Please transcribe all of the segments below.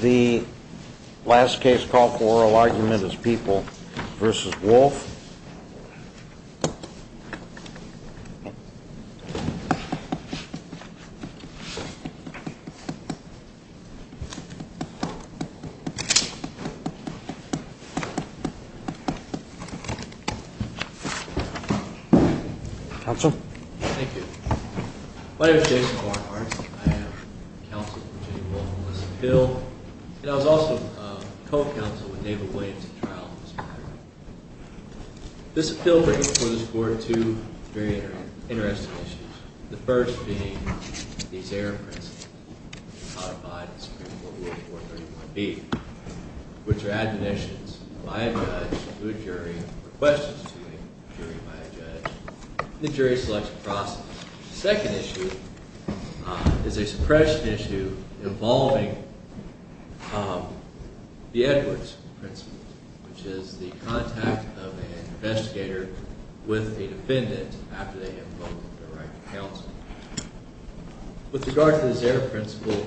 The last case called for oral argument is People v. Wolfe. Counsel? Thank you. My name is Jason Barnhart. I am counsel for Virginia v. Wolfe on this appeal. And I was also co-counsel with David Williams in trial on this matter. This appeal brings before this court two very interesting issues. The first being these error principles, codified in Supreme Court Rule 431B, which are admonitions by a judge to a jury, and requests to a jury by a judge. The jury selects a process. The second issue is a suppression issue involving the Edwards principle, which is the contact of an investigator with a defendant after they invoke their right to counsel. With regard to this error principle,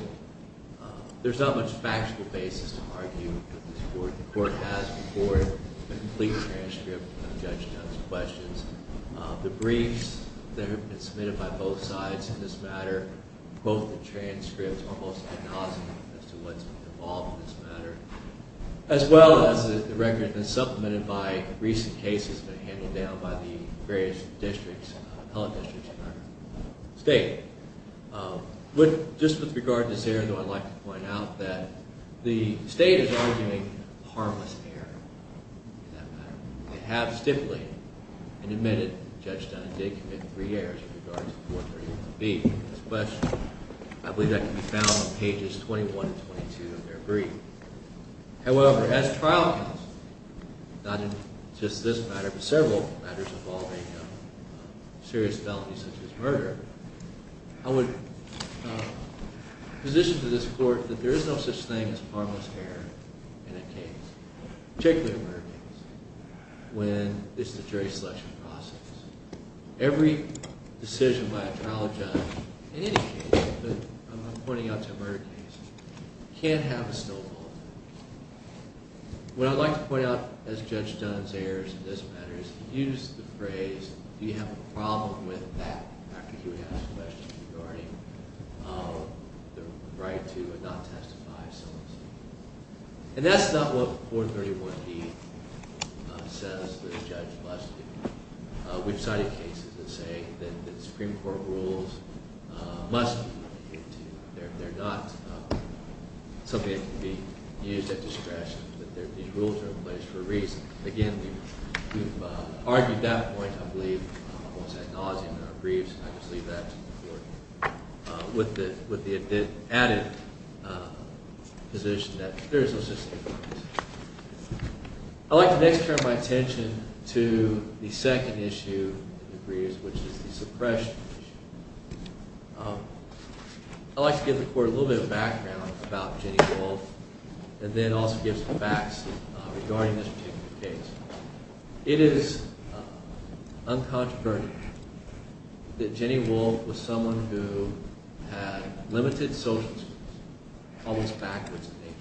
there's not much factual basis to argue because the court has before it a complete transcript of Judge Dunn's questions. The briefs that have been submitted by both sides in this matter, both the transcripts almost ad nauseam as to what's been involved in this matter, as well as the record that has been supplemented by recent cases that have been handled down by the various districts, appellate districts in our state. Just with regard to this error, though, I'd like to point out that the state is arguing harmless error in that matter. They have stipulated and admitted Judge Dunn did commit three errors in regards to 431B. I believe that can be found on pages 21 and 22 of their brief. However, as trial counsel, not just in this matter, but several matters involving serious felonies such as murder, I would position to this court that there is no such thing as harmless error in a case, particularly a murder case, when it's the jury selection process. Every decision by a trial judge in any case, but I'm pointing out to a murder case, can have a still fault. What I'd like to point out as Judge Dunn's errors in this matter is to use the phrase do you have a problem with that, after he would ask questions regarding the right to not testify so and so. And that's not what 431B says the judge must do. We've cited cases that say that the Supreme Court rules must be looked into. They're not something that can be used at discretion. These rules are in place for a reason. Again, we've argued that point, I believe, almost ad nauseum in our briefs. And I just leave that to the Court with the added position that there is no such thing as harmless error. I'd like to next turn my attention to the second issue in the briefs, which is the suppression issue. I'd like to give the Court a little bit of background about Jenny Wolfe and then also give some facts regarding this particular case. It is uncontroversial that Jenny Wolfe was someone who had limited social skills, almost backwards in nature.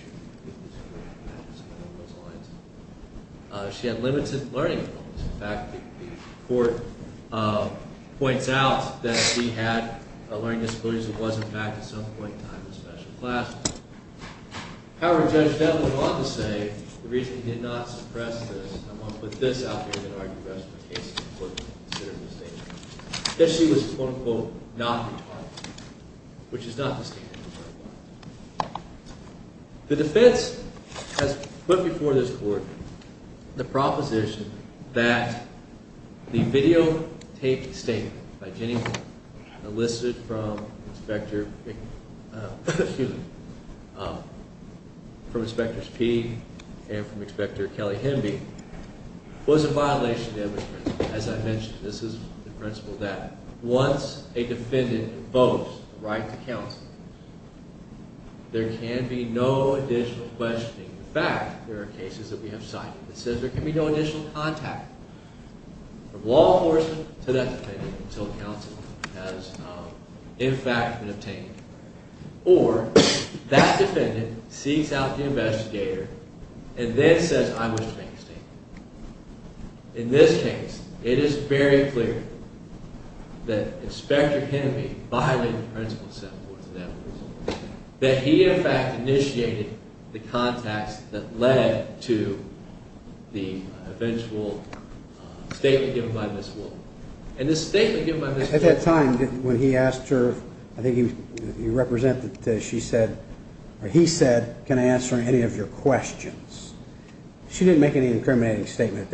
She had limited learning abilities. In fact, the Court points out that she had learning disabilities and was, in fact, at some point in time, a special class. However, Judge Devlin wanted to say, the reason he did not suppress this, I'm going to put this out there in an argument for the rest of the case, that she was, quote, unquote, not retarded, which is not the standard that I want. The defense has put before this Court the proposition that the videotaped statement by Jenny Wolfe, enlisted from Inspectors Peay and from Inspector Kelly Hemby, was a violation of the principle. As I mentioned, this is the principle that once a defendant invokes the right to counsel, there can be no additional questioning. In fact, there are cases that we have cited that says there can be no additional contact from law enforcement to that defendant until counsel has, in fact, been obtained. Or, that defendant seeks out the investigator and then says, I wish to make a statement. In this case, it is very clear that Inspector Hemby violated the principle set forth in that case, that he, in fact, initiated the contacts that led to the eventual statement given by Ms. Wolfe. And the statement given by Ms. Wolfe... At that time, when he asked her, I think he represented that she said, or he said, can I answer any of your questions? She didn't make any incriminating statement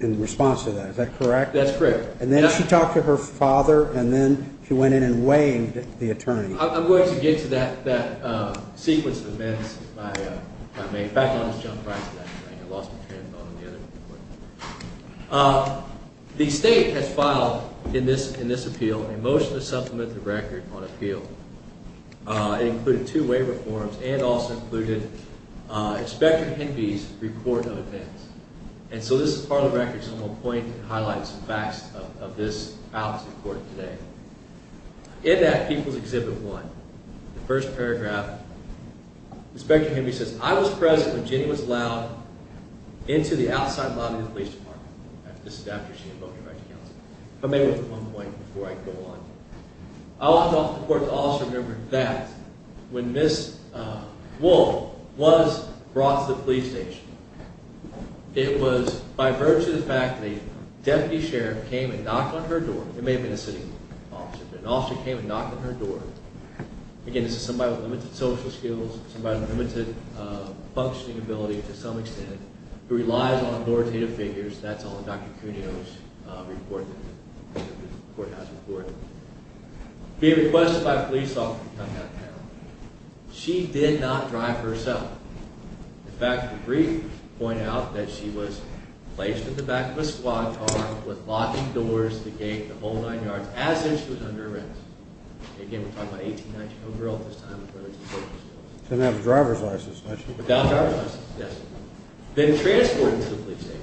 in response to that. Is that correct? That's correct. And then she talked to her father, and then she went in and waived the attorney. I'm going to get to that sequence of events. In fact, I almost jumped right to that. I lost my train of thought on the other report. The State has filed in this appeal a motion to supplement the record on appeal. It included two waiver forms and also included Inspector Hemby's report of events. And so this is part of the record, so I'm going to point and highlight some facts of this out to the court today. In that, People's Exhibit 1, the first paragraph, Inspector Hemby says, I was present when Jenny was allowed into the outside lobby of the police department. This is after she invoked the right to counsel. I may want to make one point before I go on. I want the court to also remember that when Ms. Wolfe was brought to the police station, it was by virtue of the fact that a deputy sheriff came and knocked on her door. It may have been a city officer, but an officer came and knocked on her door. Again, this is somebody with limited social skills, somebody with limited functioning ability to some extent, who relies on authoritative figures. That's all in Dr. Cuneo's report, the courthouse report. Being requested by police officer to come downtown. She did not drive herself. In fact, the brief pointed out that she was placed at the back of a squad car with locking doors to the gate the whole nine yards as if she was under arrest. Again, we're talking about an 18-19 year old girl at this time. She didn't have a driver's license, did she? Without a driver's license, yes. Then transported to the police station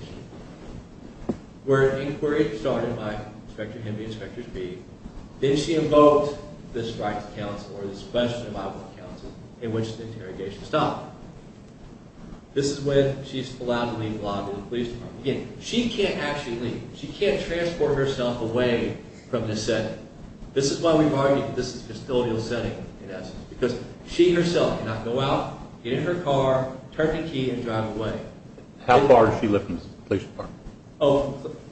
where an inquiry started by Inspector Henry, Inspector Speed. Then she invoked this right to counsel or this question about what counsel in which the interrogation stopped. This is when she's allowed to leave the lobby of the police department. Again, she can't actually leave. She can't transport herself away from this setting. This is why we've argued that this is a custodial setting in essence because she herself cannot go out, get in her car, turn the key, and drive away. How far is she lifted from the police department?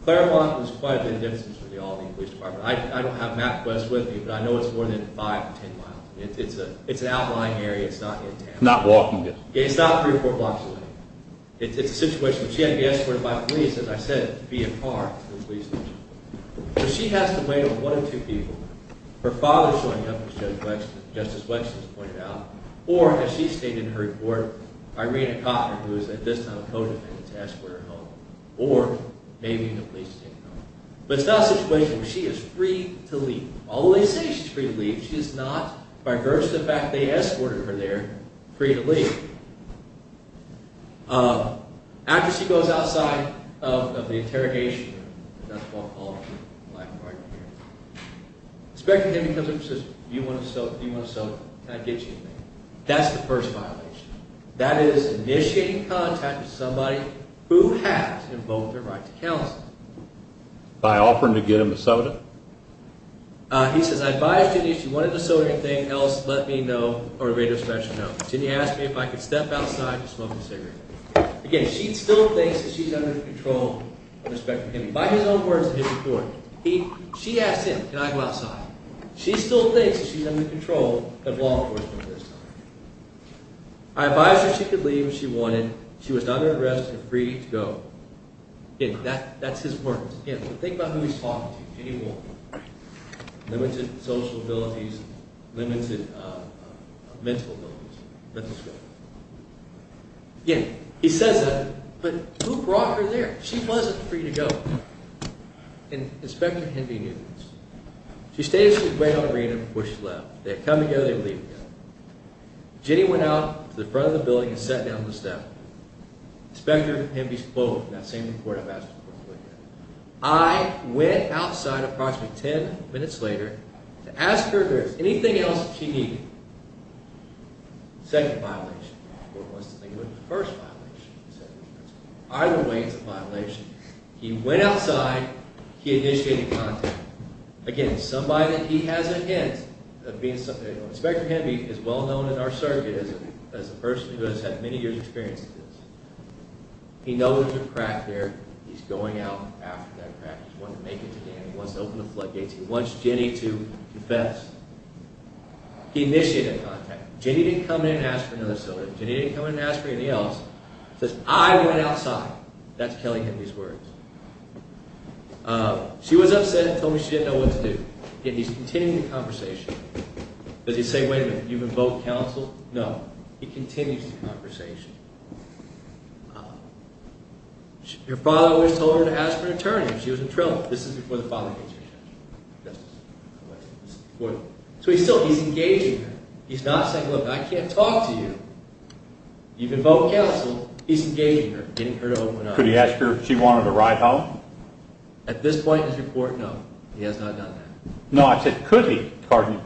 Claremont is quite a bit of distance from the lobby of the police department. I don't have MapQuest with me, but I know it's more than five to ten miles. It's an outlying area. It's not in town. It's not walking distance. It's not three or four blocks away. It's a situation where she had to be escorted by police, as I said, via car to the police station. So she has to wait on one of two people. Her father showing up, as Justice Wexner has pointed out, or, as she stated in her report, Irena Cotton, who is at this time a co-defendant, to escort her home, or maybe even the police to take her home. But it's not a situation where she is free to leave. Although they say she's free to leave, she is not, by virtue of the fact that they escorted her there, free to leave. After she goes outside of the interrogation room, and that's why all of you are laughing right here, Inspector Kennedy comes up and says, Do you want a soda? Can I get you a soda? That's the first violation. That is initiating contact with somebody who has invoked their right to counsel. By offering to get him a soda? He says, I advised Jenny if she wanted a soda or anything else, let me know, or a radio special note. Jenny asked me if I could step outside to smoke a cigarette. Again, she still thinks that she's under the control of Inspector Kennedy. By his own words and his support. She asked him, can I go outside? She still thinks that she's under the control of law enforcement at this time. I advised her she could leave if she wanted. She was not under arrest and free to go. Again, that's his words. Again, think about who he's talking to. Any woman. Limited social abilities. Limited mental abilities. Let's just go. Again, he says that, but who brought her there? She wasn't free to go. Inspector Kennedy knew this. She stayed at the arena before she left. They'd come together, they'd leave together. Jenny went out to the front of the building and sat down on the step. Inspector Kennedy's quote in that same report I've asked before. I went outside approximately ten minutes later to ask her if there was anything else she needed. Second violation. First violation. Either way, it's a violation. He went outside, he initiated contact. Again, he has a hint. Inspector Kennedy is well known in our circuit as a person who has had many years of experience with this. He knows there's a crack there. He's going out after that crack. He wants to make it to Dan. He wants to open the floodgates. He wants Jenny to confess. He initiated contact. Jenny didn't come in and ask for another soda. Jenny didn't come in and ask for anything else. He says, I went outside. That's telling him these words. She was upset and told me she didn't know what to do. Again, he's continuing the conversation. Does he say, wait a minute, you've invoked counsel? No. He continues the conversation. Your father always told her to ask for an attorney. She was in trouble. This is before the father gets here. So he's still, he's engaging her. He's not saying, look, I can't talk to you. You've invoked counsel. He's engaging her, getting her to open up. Could he ask her if she wanted a ride home? At this point in his report, no. He has not done that. No, I said, could he? Pardon me.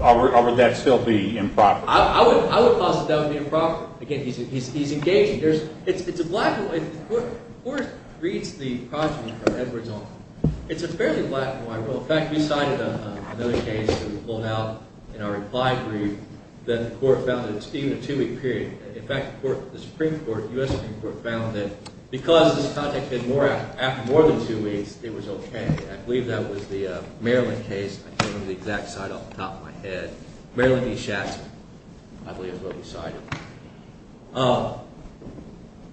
Or would that still be improper? I would posit that would be improper. Again, he's engaging. It's a black hole. The court reads the progeny from Edwards on. It's a fairly black hole. In fact, we cited another case that was pulled out in our reply brief that the court found that it's even a two-week period. In fact, the Supreme Court, US Supreme Court, found that because this contact happened after more than two weeks, it was OK. I believe that was the Maryland case. I can't remember the exact site off the top of my head. Maryland v. Schatzman, I believe, is what we cited.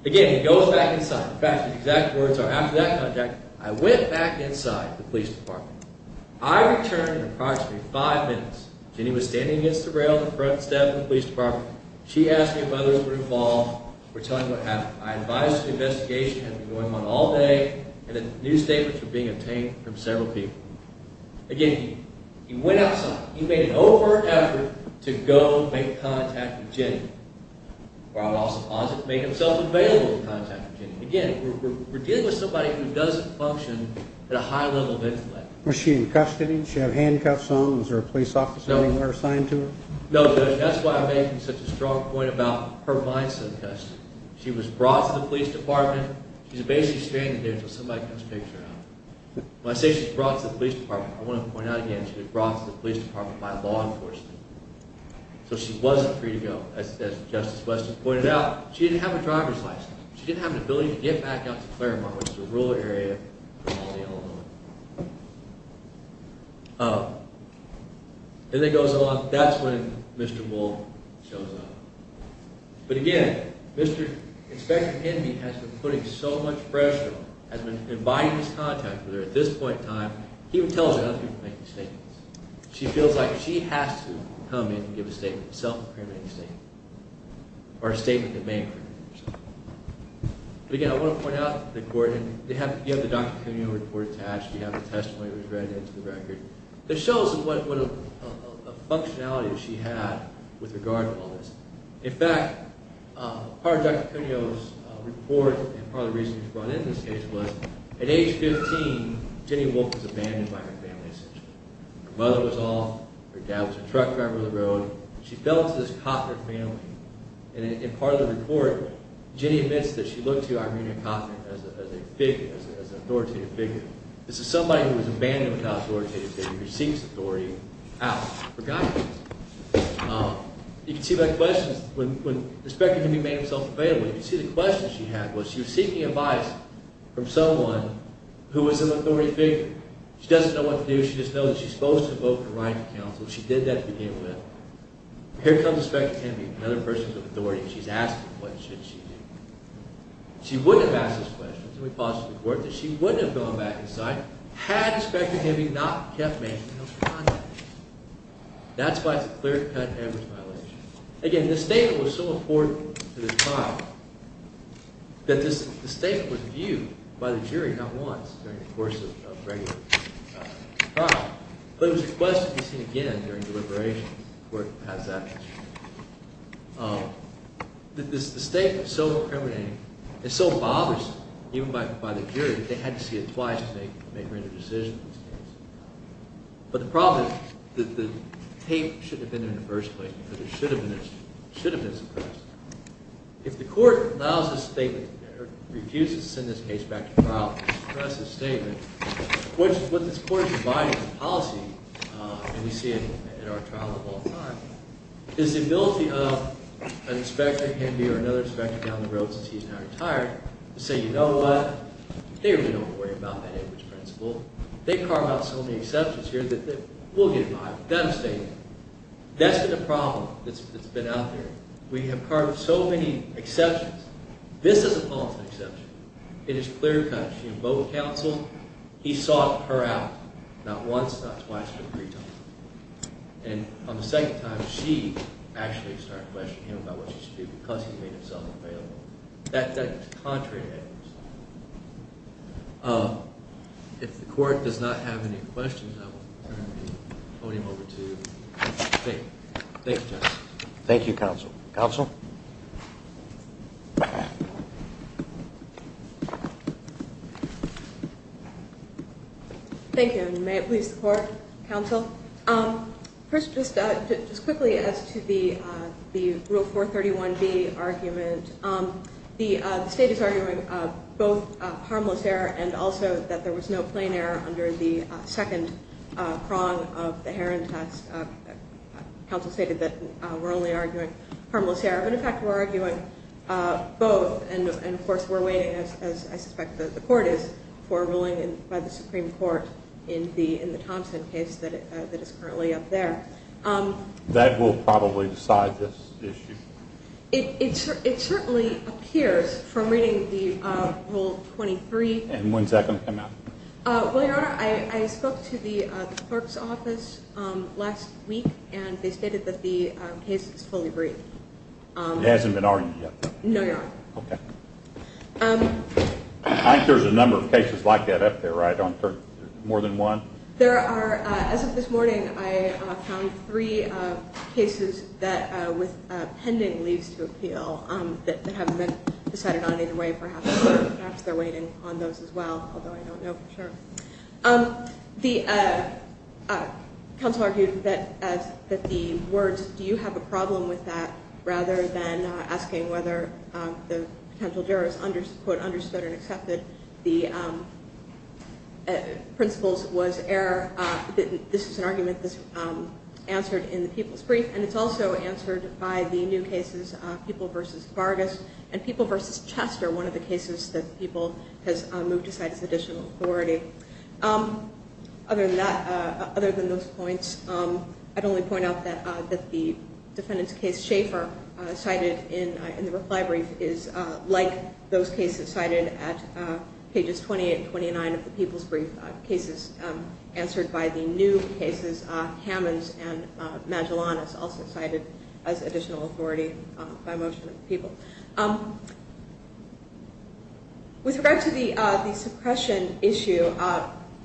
Again, he goes back inside. In fact, the exact words are, after that contact, I went back inside the police department. I returned in approximately five minutes. Jenny was standing against the rail in the front step of the police department. She asked me if others were involved. We're telling you what happened. I advised the investigation had been going on all day and that new statements were being obtained from several people. Again, he went outside. He made an overt effort to go make contact with Jenny. Or I would also posit, make themselves available to contact with Jenny. Again, we're dealing with somebody who doesn't function at a high level of intellect. Was she in custody? Did she have handcuffs on? Was there a police officer anywhere assigned to her? No, Judge. That's why I'm making such a strong point about her mindset of custody. She was brought to the police department. She's basically standing there until somebody comes and takes her out. When I say she was brought to the police department, I want to point out again, she was brought to the police department by law enforcement. So she wasn't free to go, as Justice Weston pointed out. She didn't have a driver's license. She didn't have an ability to get back out to Claremont, which is a rural area from Alde, Illinois. Then it goes on. That's when Mr. Bull shows up. But again, Inspector Kennedy has been putting so much pressure on her, has been inviting these contacts with her at this point in time. He even tells her how to make these statements. She feels like she has to come in and give a statement of self-determination or a statement of bankruptcy or something. But again, I want to point out to the court, and you have the Dr. Cuneo report attached. You have the testimony that was read into the record. That shows what a functionality she had with regard to all this. In fact, part of Dr. Cuneo's report and part of the research brought into this case was, at age 15, Jenny Wolfe was abandoned by her family, essentially. Her mother was off. Her dad was a truck driver on the road. She fell into this copper family. And in part of the report, Jenny admits that she looked to Irena Coffin as a figure, as an authoritative figure. This is somebody who was abandoned without authoritative figure, who seeks authority out for guidance. You can see by questions, when Inspector Kennedy made himself available, you can see the questions she had was she was seeking advice from someone who was an authoritative figure. She doesn't know what to do. She just knows that she's supposed to invoke the right counsel. She did that to begin with. Here comes Inspector Kennedy, another person of authority, and she's asked him what should she do. She wouldn't have asked those questions, and we paused for the court, that she wouldn't have gone back inside had Inspector Kennedy not kept making those comments. That's why it's a clear-cut Edwards violation. Again, this statement was so important to the trial that this statement was viewed by the jury not once during the course of the trial. But it was requested to be seen again during deliberation. The court has that. The statement is so incriminating, it's so bothersome, even by the jury, that they had to see it twice to make a decision in this case. But the problem is that the tape shouldn't have been there in the first place, but it should have been suppressed. If the court allows this statement, or refuses to send this case back to trial to suppress this statement, what this court is providing in policy, and we see it in our trial of all time, is the ability of an inspector, Kennedy or another inspector down the road since he's now retired, to say, you know what? They really don't worry about that Edwards principle. They've carved out so many exceptions here that we'll get involved with that statement. That's been a problem that's been out there. We have carved so many exceptions. This is a policy exception. It is clear-cut. Both counsel, he sought her out not once, not twice, but three times. And on the second time, she actually started questioning him about what she should do, because he made himself available. That was contrary to Edwards. If the court does not have any questions, I will turn the podium over to you. Thanks, Justice. Thank you, counsel. Counsel? Thank you. And may it please the court, counsel? First, just quickly as to the Rule 431B argument, the state is arguing both harmless error and also that there was no plain error under the second prong of the Heron test. Counsel stated that we're only arguing harmless error. But in fact, we're arguing both. And of course, we're waiting, as I suspect the court is, for a ruling by the Supreme Court in the Thompson case that is currently up there. That will probably decide this issue. It certainly appears from reading the Rule 23. And when's that going to come out? Well, Your Honor, I spoke to the clerk's office last week. And they stated that the case is fully briefed. It hasn't been argued yet? No, Your Honor. OK. I think there's a number of cases like that up there, right? More than one? There are. As of this morning, I found three cases with pending leaves to appeal that haven't been decided on either way. Perhaps they're waiting on those as well, although I don't know for sure. The counsel argued that the words, do you have a problem with that, rather than asking whether the potential jurors understood and accepted the principles was error. This is an argument that's answered in the People's Brief. And it's also answered by the new cases, People v. Vargas, and People v. Chester, one of the cases that People has moved aside as additional authority. Other than those points, I'd only point out that the defendant's case, Schaefer, cited in the reply brief, is like those cases cited at pages 20 and 29 of the People's Brief, cases answered by the new cases, Hammons and Magellan, as also cited as additional authority by motion of the People. With regard to the suppression issue,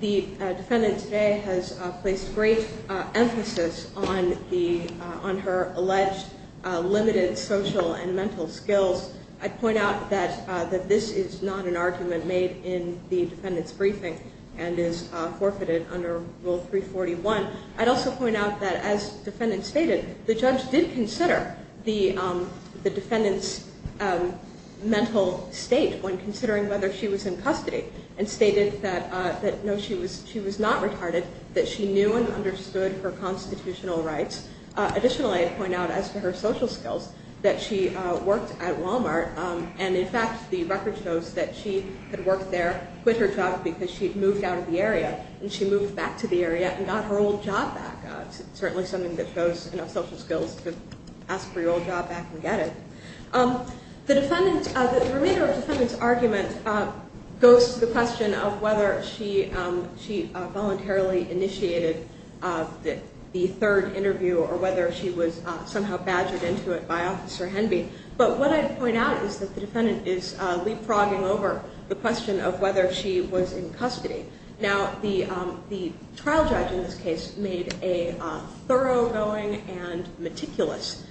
the defendant today has placed great emphasis on her alleged limited social and mental skills. I'd point out that this is not an argument made in the defendant's briefing and is forfeited under Rule 341. I'd also point out that, as the defendant stated, the judge did consider the defendant's mental state when considering whether she was in custody and stated that, no, she was not retarded, that she knew and understood her constitutional rights. Additionally, I'd point out, as to her social skills, that she worked at Walmart, and, in fact, the record shows that she had worked there, quit her job because she had moved out of the area, and she moved back to the area and got her old job back. Certainly something that shows social skills to ask for your old job back and get it. The remainder of the defendant's argument goes to the question of whether she voluntarily initiated the third interview or whether she was somehow badgered into it by Officer Henby. But what I'd point out is that the defendant is leapfrogging over the question of whether she was in custody. Now, the trial judge in this case made a thoroughgoing and meticulous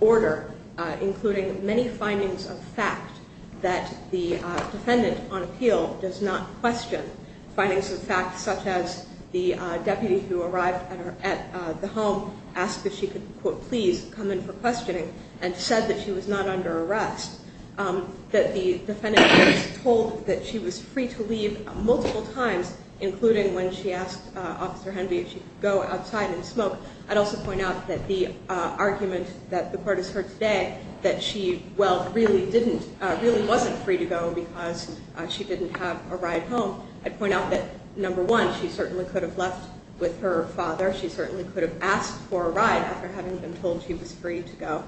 order, including many findings of fact that the defendant, on appeal, does not question. Findings of fact such as the deputy who arrived at the home asked if she could, quote, please come in for questioning and said that she was not under arrest. That the defendant was told that she was free to leave multiple times, including when she asked Officer Henby if she could go outside and smoke. I'd also point out that the argument that the court has heard today that she, well, really wasn't free to go because she didn't have a ride home. I'd point out that, number one, she certainly could have left with her father. She certainly could have asked for a ride after having been told she was free to go.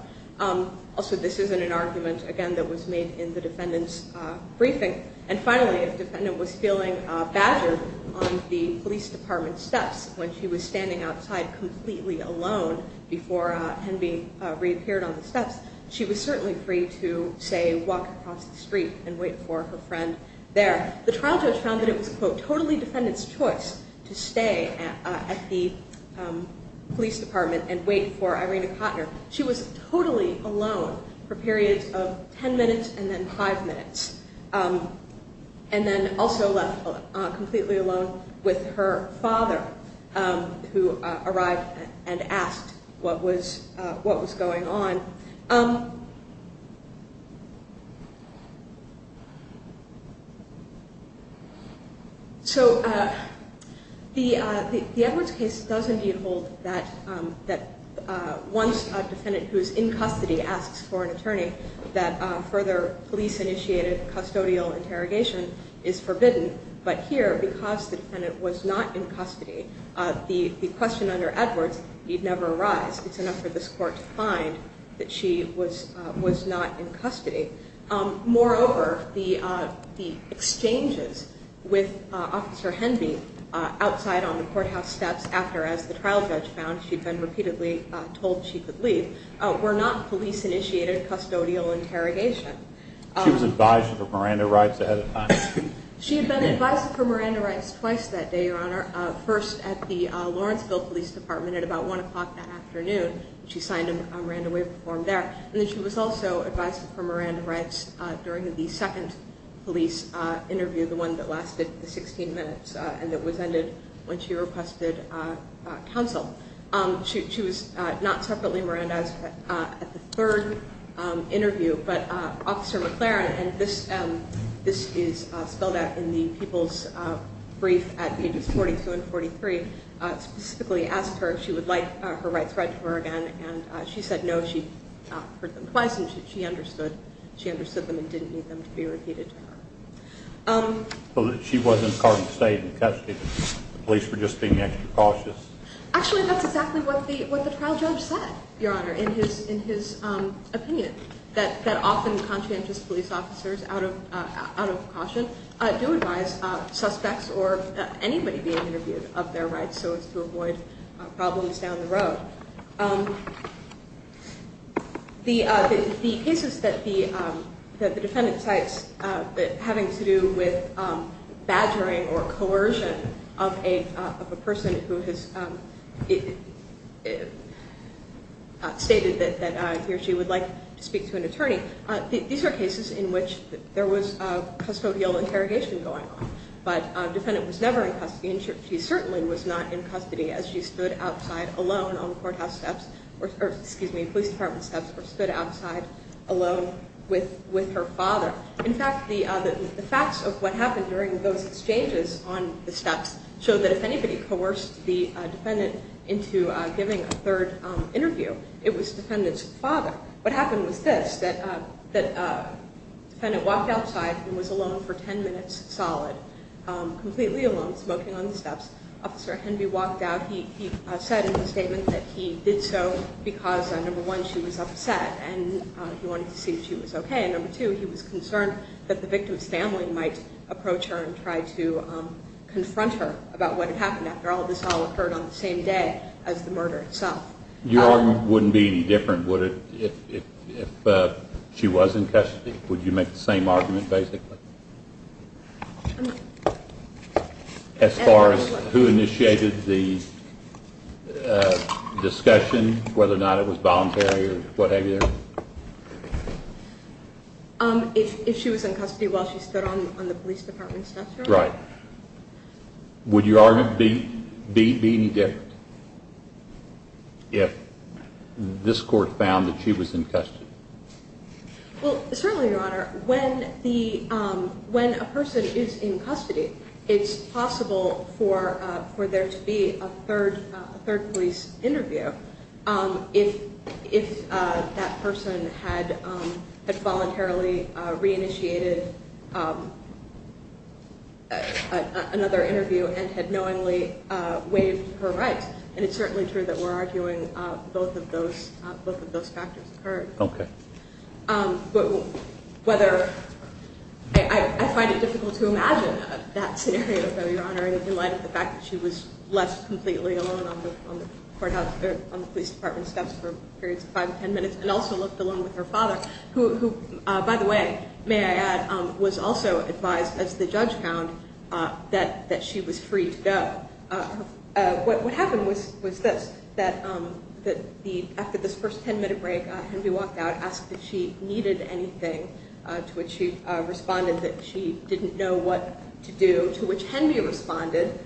Also, this isn't an argument, again, that was made in the defendant's briefing. And finally, if the defendant was feeling badgered on the police department steps when she was standing outside completely alone before Henby reappeared on the steps, she was certainly free to, say, walk across the street and wait for her friend there. The trial judge found that it was, quote, totally defendant's choice to stay at the police department and wait for Irina Kotner. She was totally alone for periods of 10 minutes and then 5 minutes. And then also left completely alone with her father, who arrived and asked what was going on. So the Edwards case does indeed hold that once a defendant who is in custody asks for an attorney, that further police-initiated custodial interrogation is forbidden. But here, because the defendant was not in custody, the question under Edwards, you'd never arise, it's enough for this court to find that she was not in custody. Moreover, the exchanges with Officer Henby outside on the courthouse steps after, as the trial judge found, she'd been repeatedly told she could leave, were not police-initiated custodial interrogation. She was advised of her Miranda rights ahead of time. She had been advised of her Miranda rights twice that day, Your Honor. First at the Lawrenceville Police Department at about 1 o'clock that afternoon. She signed a Miranda waiver form there. And then she was also advised of her Miranda rights during the second police interview, the one that lasted 16 minutes and that was ended when she requested counsel. She was not separately Mirandaized at the third interview, but Officer McLaren, and this is spelled out in the people's brief at pages 42 and 43, specifically asked her if she would like her rights read to her again, and she said no. She heard them twice and she understood. She understood them and didn't need them to be repeated to her. But she wasn't caught in the state in custody. The police were just being extra cautious. Actually, that's exactly what the trial judge said, Your Honor, in his opinion, that often conscientious police officers out of caution do advise suspects or anybody being interviewed of their rights so as to avoid problems down the road. The cases that the defendant cites having to do with badgering or coercion of a person who has stated that he or she would like to speak to an attorney, these are cases in which there was custodial interrogation going on, but the defendant was never in custody and she certainly was not in custody as she stood outside alone on courthouse steps or police department steps or stood outside alone with her father. In fact, the facts of what happened during those exchanges on the steps showed that if anybody coerced the defendant into giving a third interview, it was the defendant's father. What happened was this, that the defendant walked outside and was alone for ten minutes solid, completely alone, smoking on the steps. Officer Henvey walked out. He said in his statement that he did so because, number one, she was upset and he wanted to see if she was okay, and number two, he was concerned that the victim's family might approach her and try to confront her about what had happened after all this all occurred on the same day as the murder itself. Your argument wouldn't be any different, would it, if she was in custody? Would you make the same argument basically? As far as who initiated the discussion, whether or not it was voluntary or what have you? If she was in custody while she stood on the police department steps. Right. Would your argument be any different if this court found that she was in custody? Well, certainly, Your Honor. When a person is in custody, it's possible for there to be a third police interview if that person had voluntarily re-initiated another interview and had knowingly waived her rights, and it's certainly true that we're arguing both of those factors occurred. Okay. I find it difficult to imagine that scenario, though, Your Honor, in light of the fact that she was left completely alone on the police department steps for periods of five to ten minutes and also left alone with her father, who, by the way, may I add, was also advised, as the judge found, that she was free to go. What happened was this, that after this first ten-minute break, Henry walked out and asked if she needed anything, to which she responded that she didn't know what to do, to which Henry responded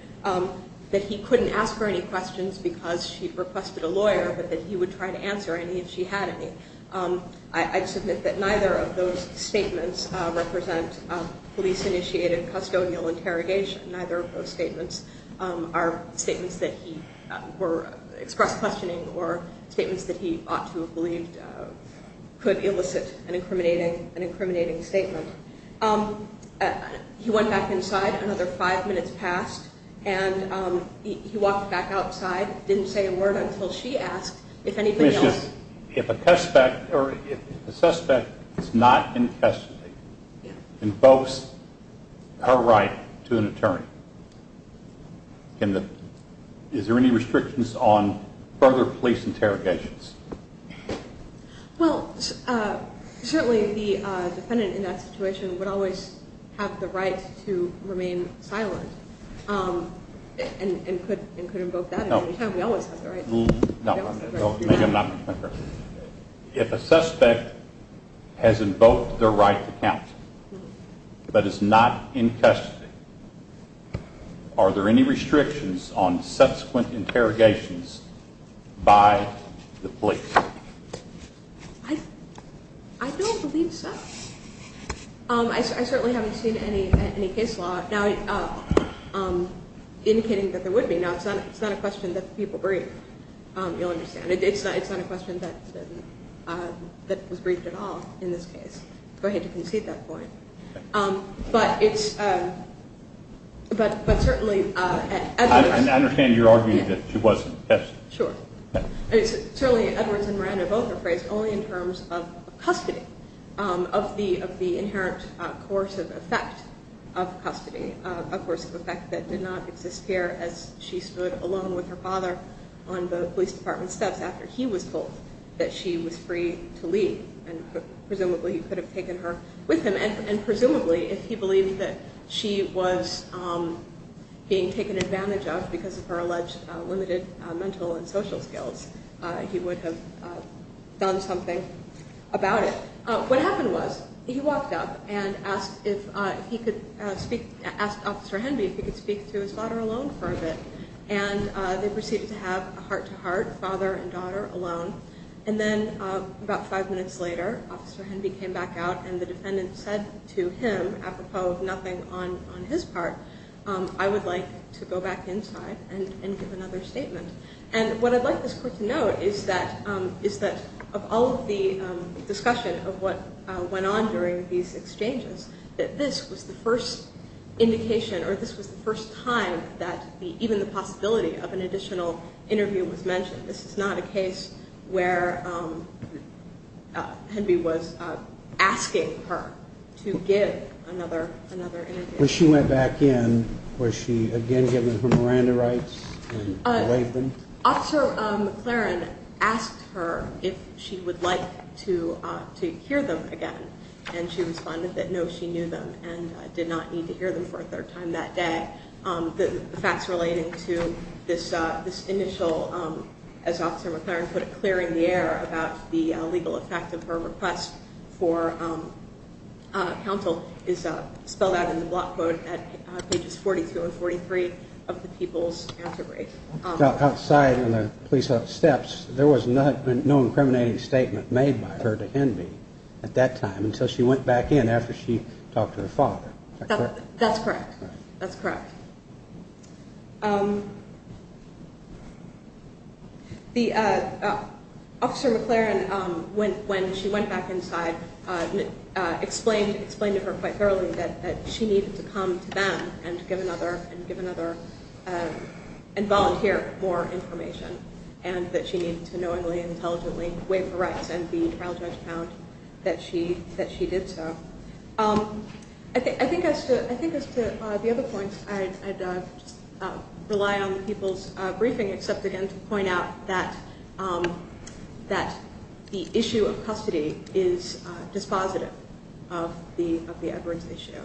that he couldn't ask her any questions because she'd requested a lawyer but that he would try to answer any if she had any. I'd submit that neither of those statements represent police-initiated custodial interrogation. Neither of those statements are statements that he expressed questioning or statements that he ought to have believed could elicit an incriminating statement. He went back inside, another five minutes passed, and he walked back outside, didn't say a word until she asked if anything else. If a suspect is not in custody and boasts her right to an attorney, is there any restrictions on further police interrogations? Well, certainly the defendant in that situation would always have the right to remain silent and could invoke that at any time. No. We always have the right. No. Maybe I'm not correct. If a suspect has invoked their right to count but is not in custody, are there any restrictions on subsequent interrogations by the police? I don't believe so. I certainly haven't seen any case law indicating that there would be. Now, it's not a question that people brief, you'll understand. It's not a question that was briefed at all in this case. Go ahead to concede that point. But it's certainly Edwards. I understand you're arguing that she wasn't. Sure. Certainly Edwards and Miranda both are phrased only in terms of custody, of the inherent course of effect of custody, a course of effect that did not exist here as she stood alone with her father on the police department steps after he was told that she was free to leave and presumably could have taken her with him and presumably if he believed that she was being taken advantage of because of her alleged limited mental and social skills, he would have done something about it. What happened was he walked up and asked Officer Henby if he could speak to his daughter alone for a bit, and they proceeded to have a heart-to-heart, father and daughter alone, and then about five minutes later Officer Henby came back out and the defendant said to him, apropos of nothing on his part, I would like to go back inside and give another statement. And what I'd like this court to note is that of all of the discussion of what went on during these exchanges, that this was the first indication or this was the first time that even the possibility of an additional interview was mentioned. This is not a case where Henby was asking her to give another interview. When she went back in, was she again given her Miranda rights? Officer McLaren asked her if she would like to hear them again, and she responded that no, she knew them and did not need to hear them for a third time that day. The facts relating to this initial, as Officer McLaren put it, clearing the air about the legal effect of her request for counsel is spelled out in the block quote at pages 42 and 43 of the People's Answer Brief. Outside in the police house steps, there was no incriminating statement made by her to Henby at that time until she went back in after she talked to her father. That's correct. Officer McLaren, when she went back inside, explained to her quite thoroughly that she needed to come to them and volunteer more information and that she needed to knowingly and intelligently waive her rights and be trial judge found that she did so. I think as to the other points, I'd just rely on the people's briefing except again to point out that the issue of custody is dispositive of the Edwards issue.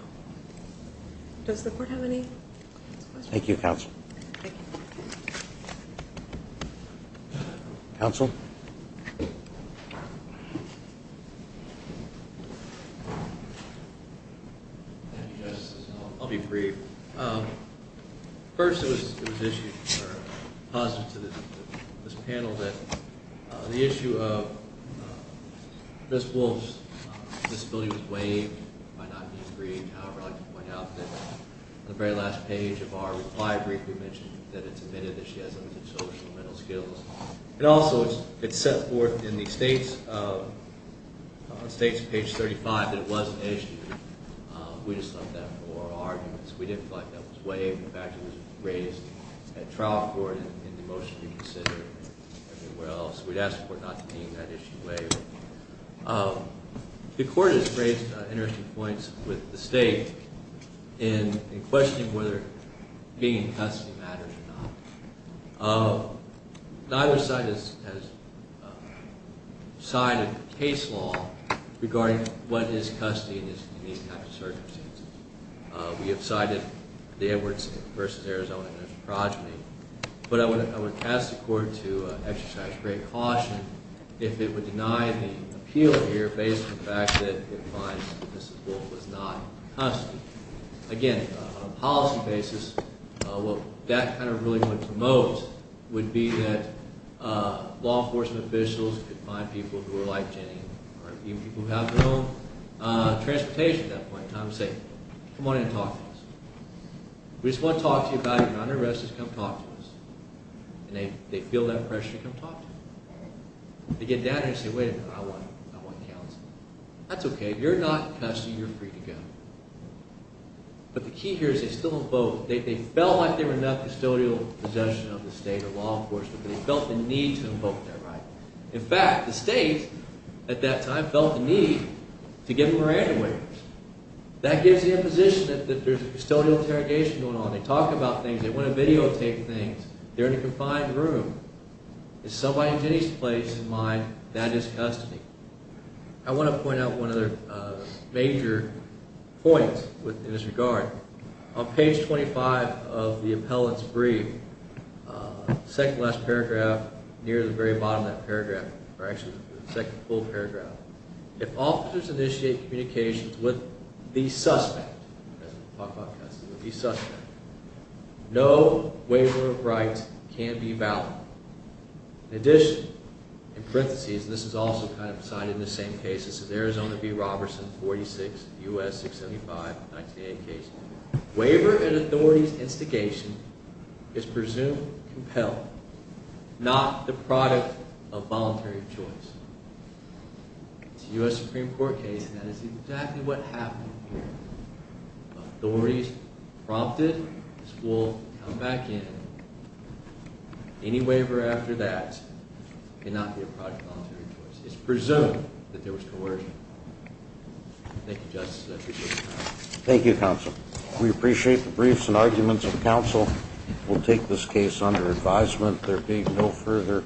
Does the court have any questions? Thank you, counsel. Counsel? I'll be brief. First, it was positive to this panel that the issue of Ms. Wolfe's disability was waived by not being briefed. However, I'd like to point out that on the very last page of our reply brief, we mentioned that it's admitted that she has limited social and mental skills. Also, it's set forth in the state's page 35 that it was an issue. We just left that for our arguments. We didn't feel like that was waived. In fact, it was raised at trial court in the motion reconsidered. So we'd ask the court not to deem that issue waived. The court has raised interesting points with the state in questioning whether being in custody matters or not. Neither side has cited case law regarding what is custody in these types of circumstances. We have cited the Edwards versus Arizona progeny. But I would ask the court to exercise great caution if it would deny the appeal here based on the fact that it finds that Ms. Wolfe was not in custody. Again, on a policy basis, what that kind of really would promote would be that law enforcement officials could find people who are like Jenny or even people who have their own transportation at that point in time and say, come on in and talk to us. We just want to talk to you about it. You're not under arrest. Just come talk to us. And they feel that pressure to come talk to you. They get down there and say, wait a minute. I want counsel. That's okay. You're not in custody. You're free to go. But the key here is they still invoke. They felt like they were not custodial possession of the state or law enforcement. They felt the need to invoke that right. In fact, the state at that time felt the need to give Miranda waivers. That gives the imposition that there's a custodial interrogation going on. They talk about things. They want to videotape things. They're in a confined room. It's somebody in Jenny's place and mine. That is custody. I want to point out one other major point in this regard. On page 25 of the appellant's brief, second-to-last paragraph, near the very bottom of that paragraph, or actually the second full paragraph, if officers initiate communications with the suspect, no waiver of rights can be valid. In addition, in parentheses, this is also kind of cited in the same case. This is Arizona v. Robertson, 46, U.S. 675, 1908 case. Waiver and authorities instigation is presumed compelled, not the product of voluntary choice. It's a U.S. Supreme Court case, and that is exactly what happened here. Authorities prompted. This will come back in. Any waiver after that cannot be a product of voluntary choice. It's presumed that there was coercion. Thank you, Justice. I appreciate your time. Thank you, Counsel. We appreciate the briefs and arguments of counsel. We'll take this case under advisement. There being no further questions, we'll adjourn.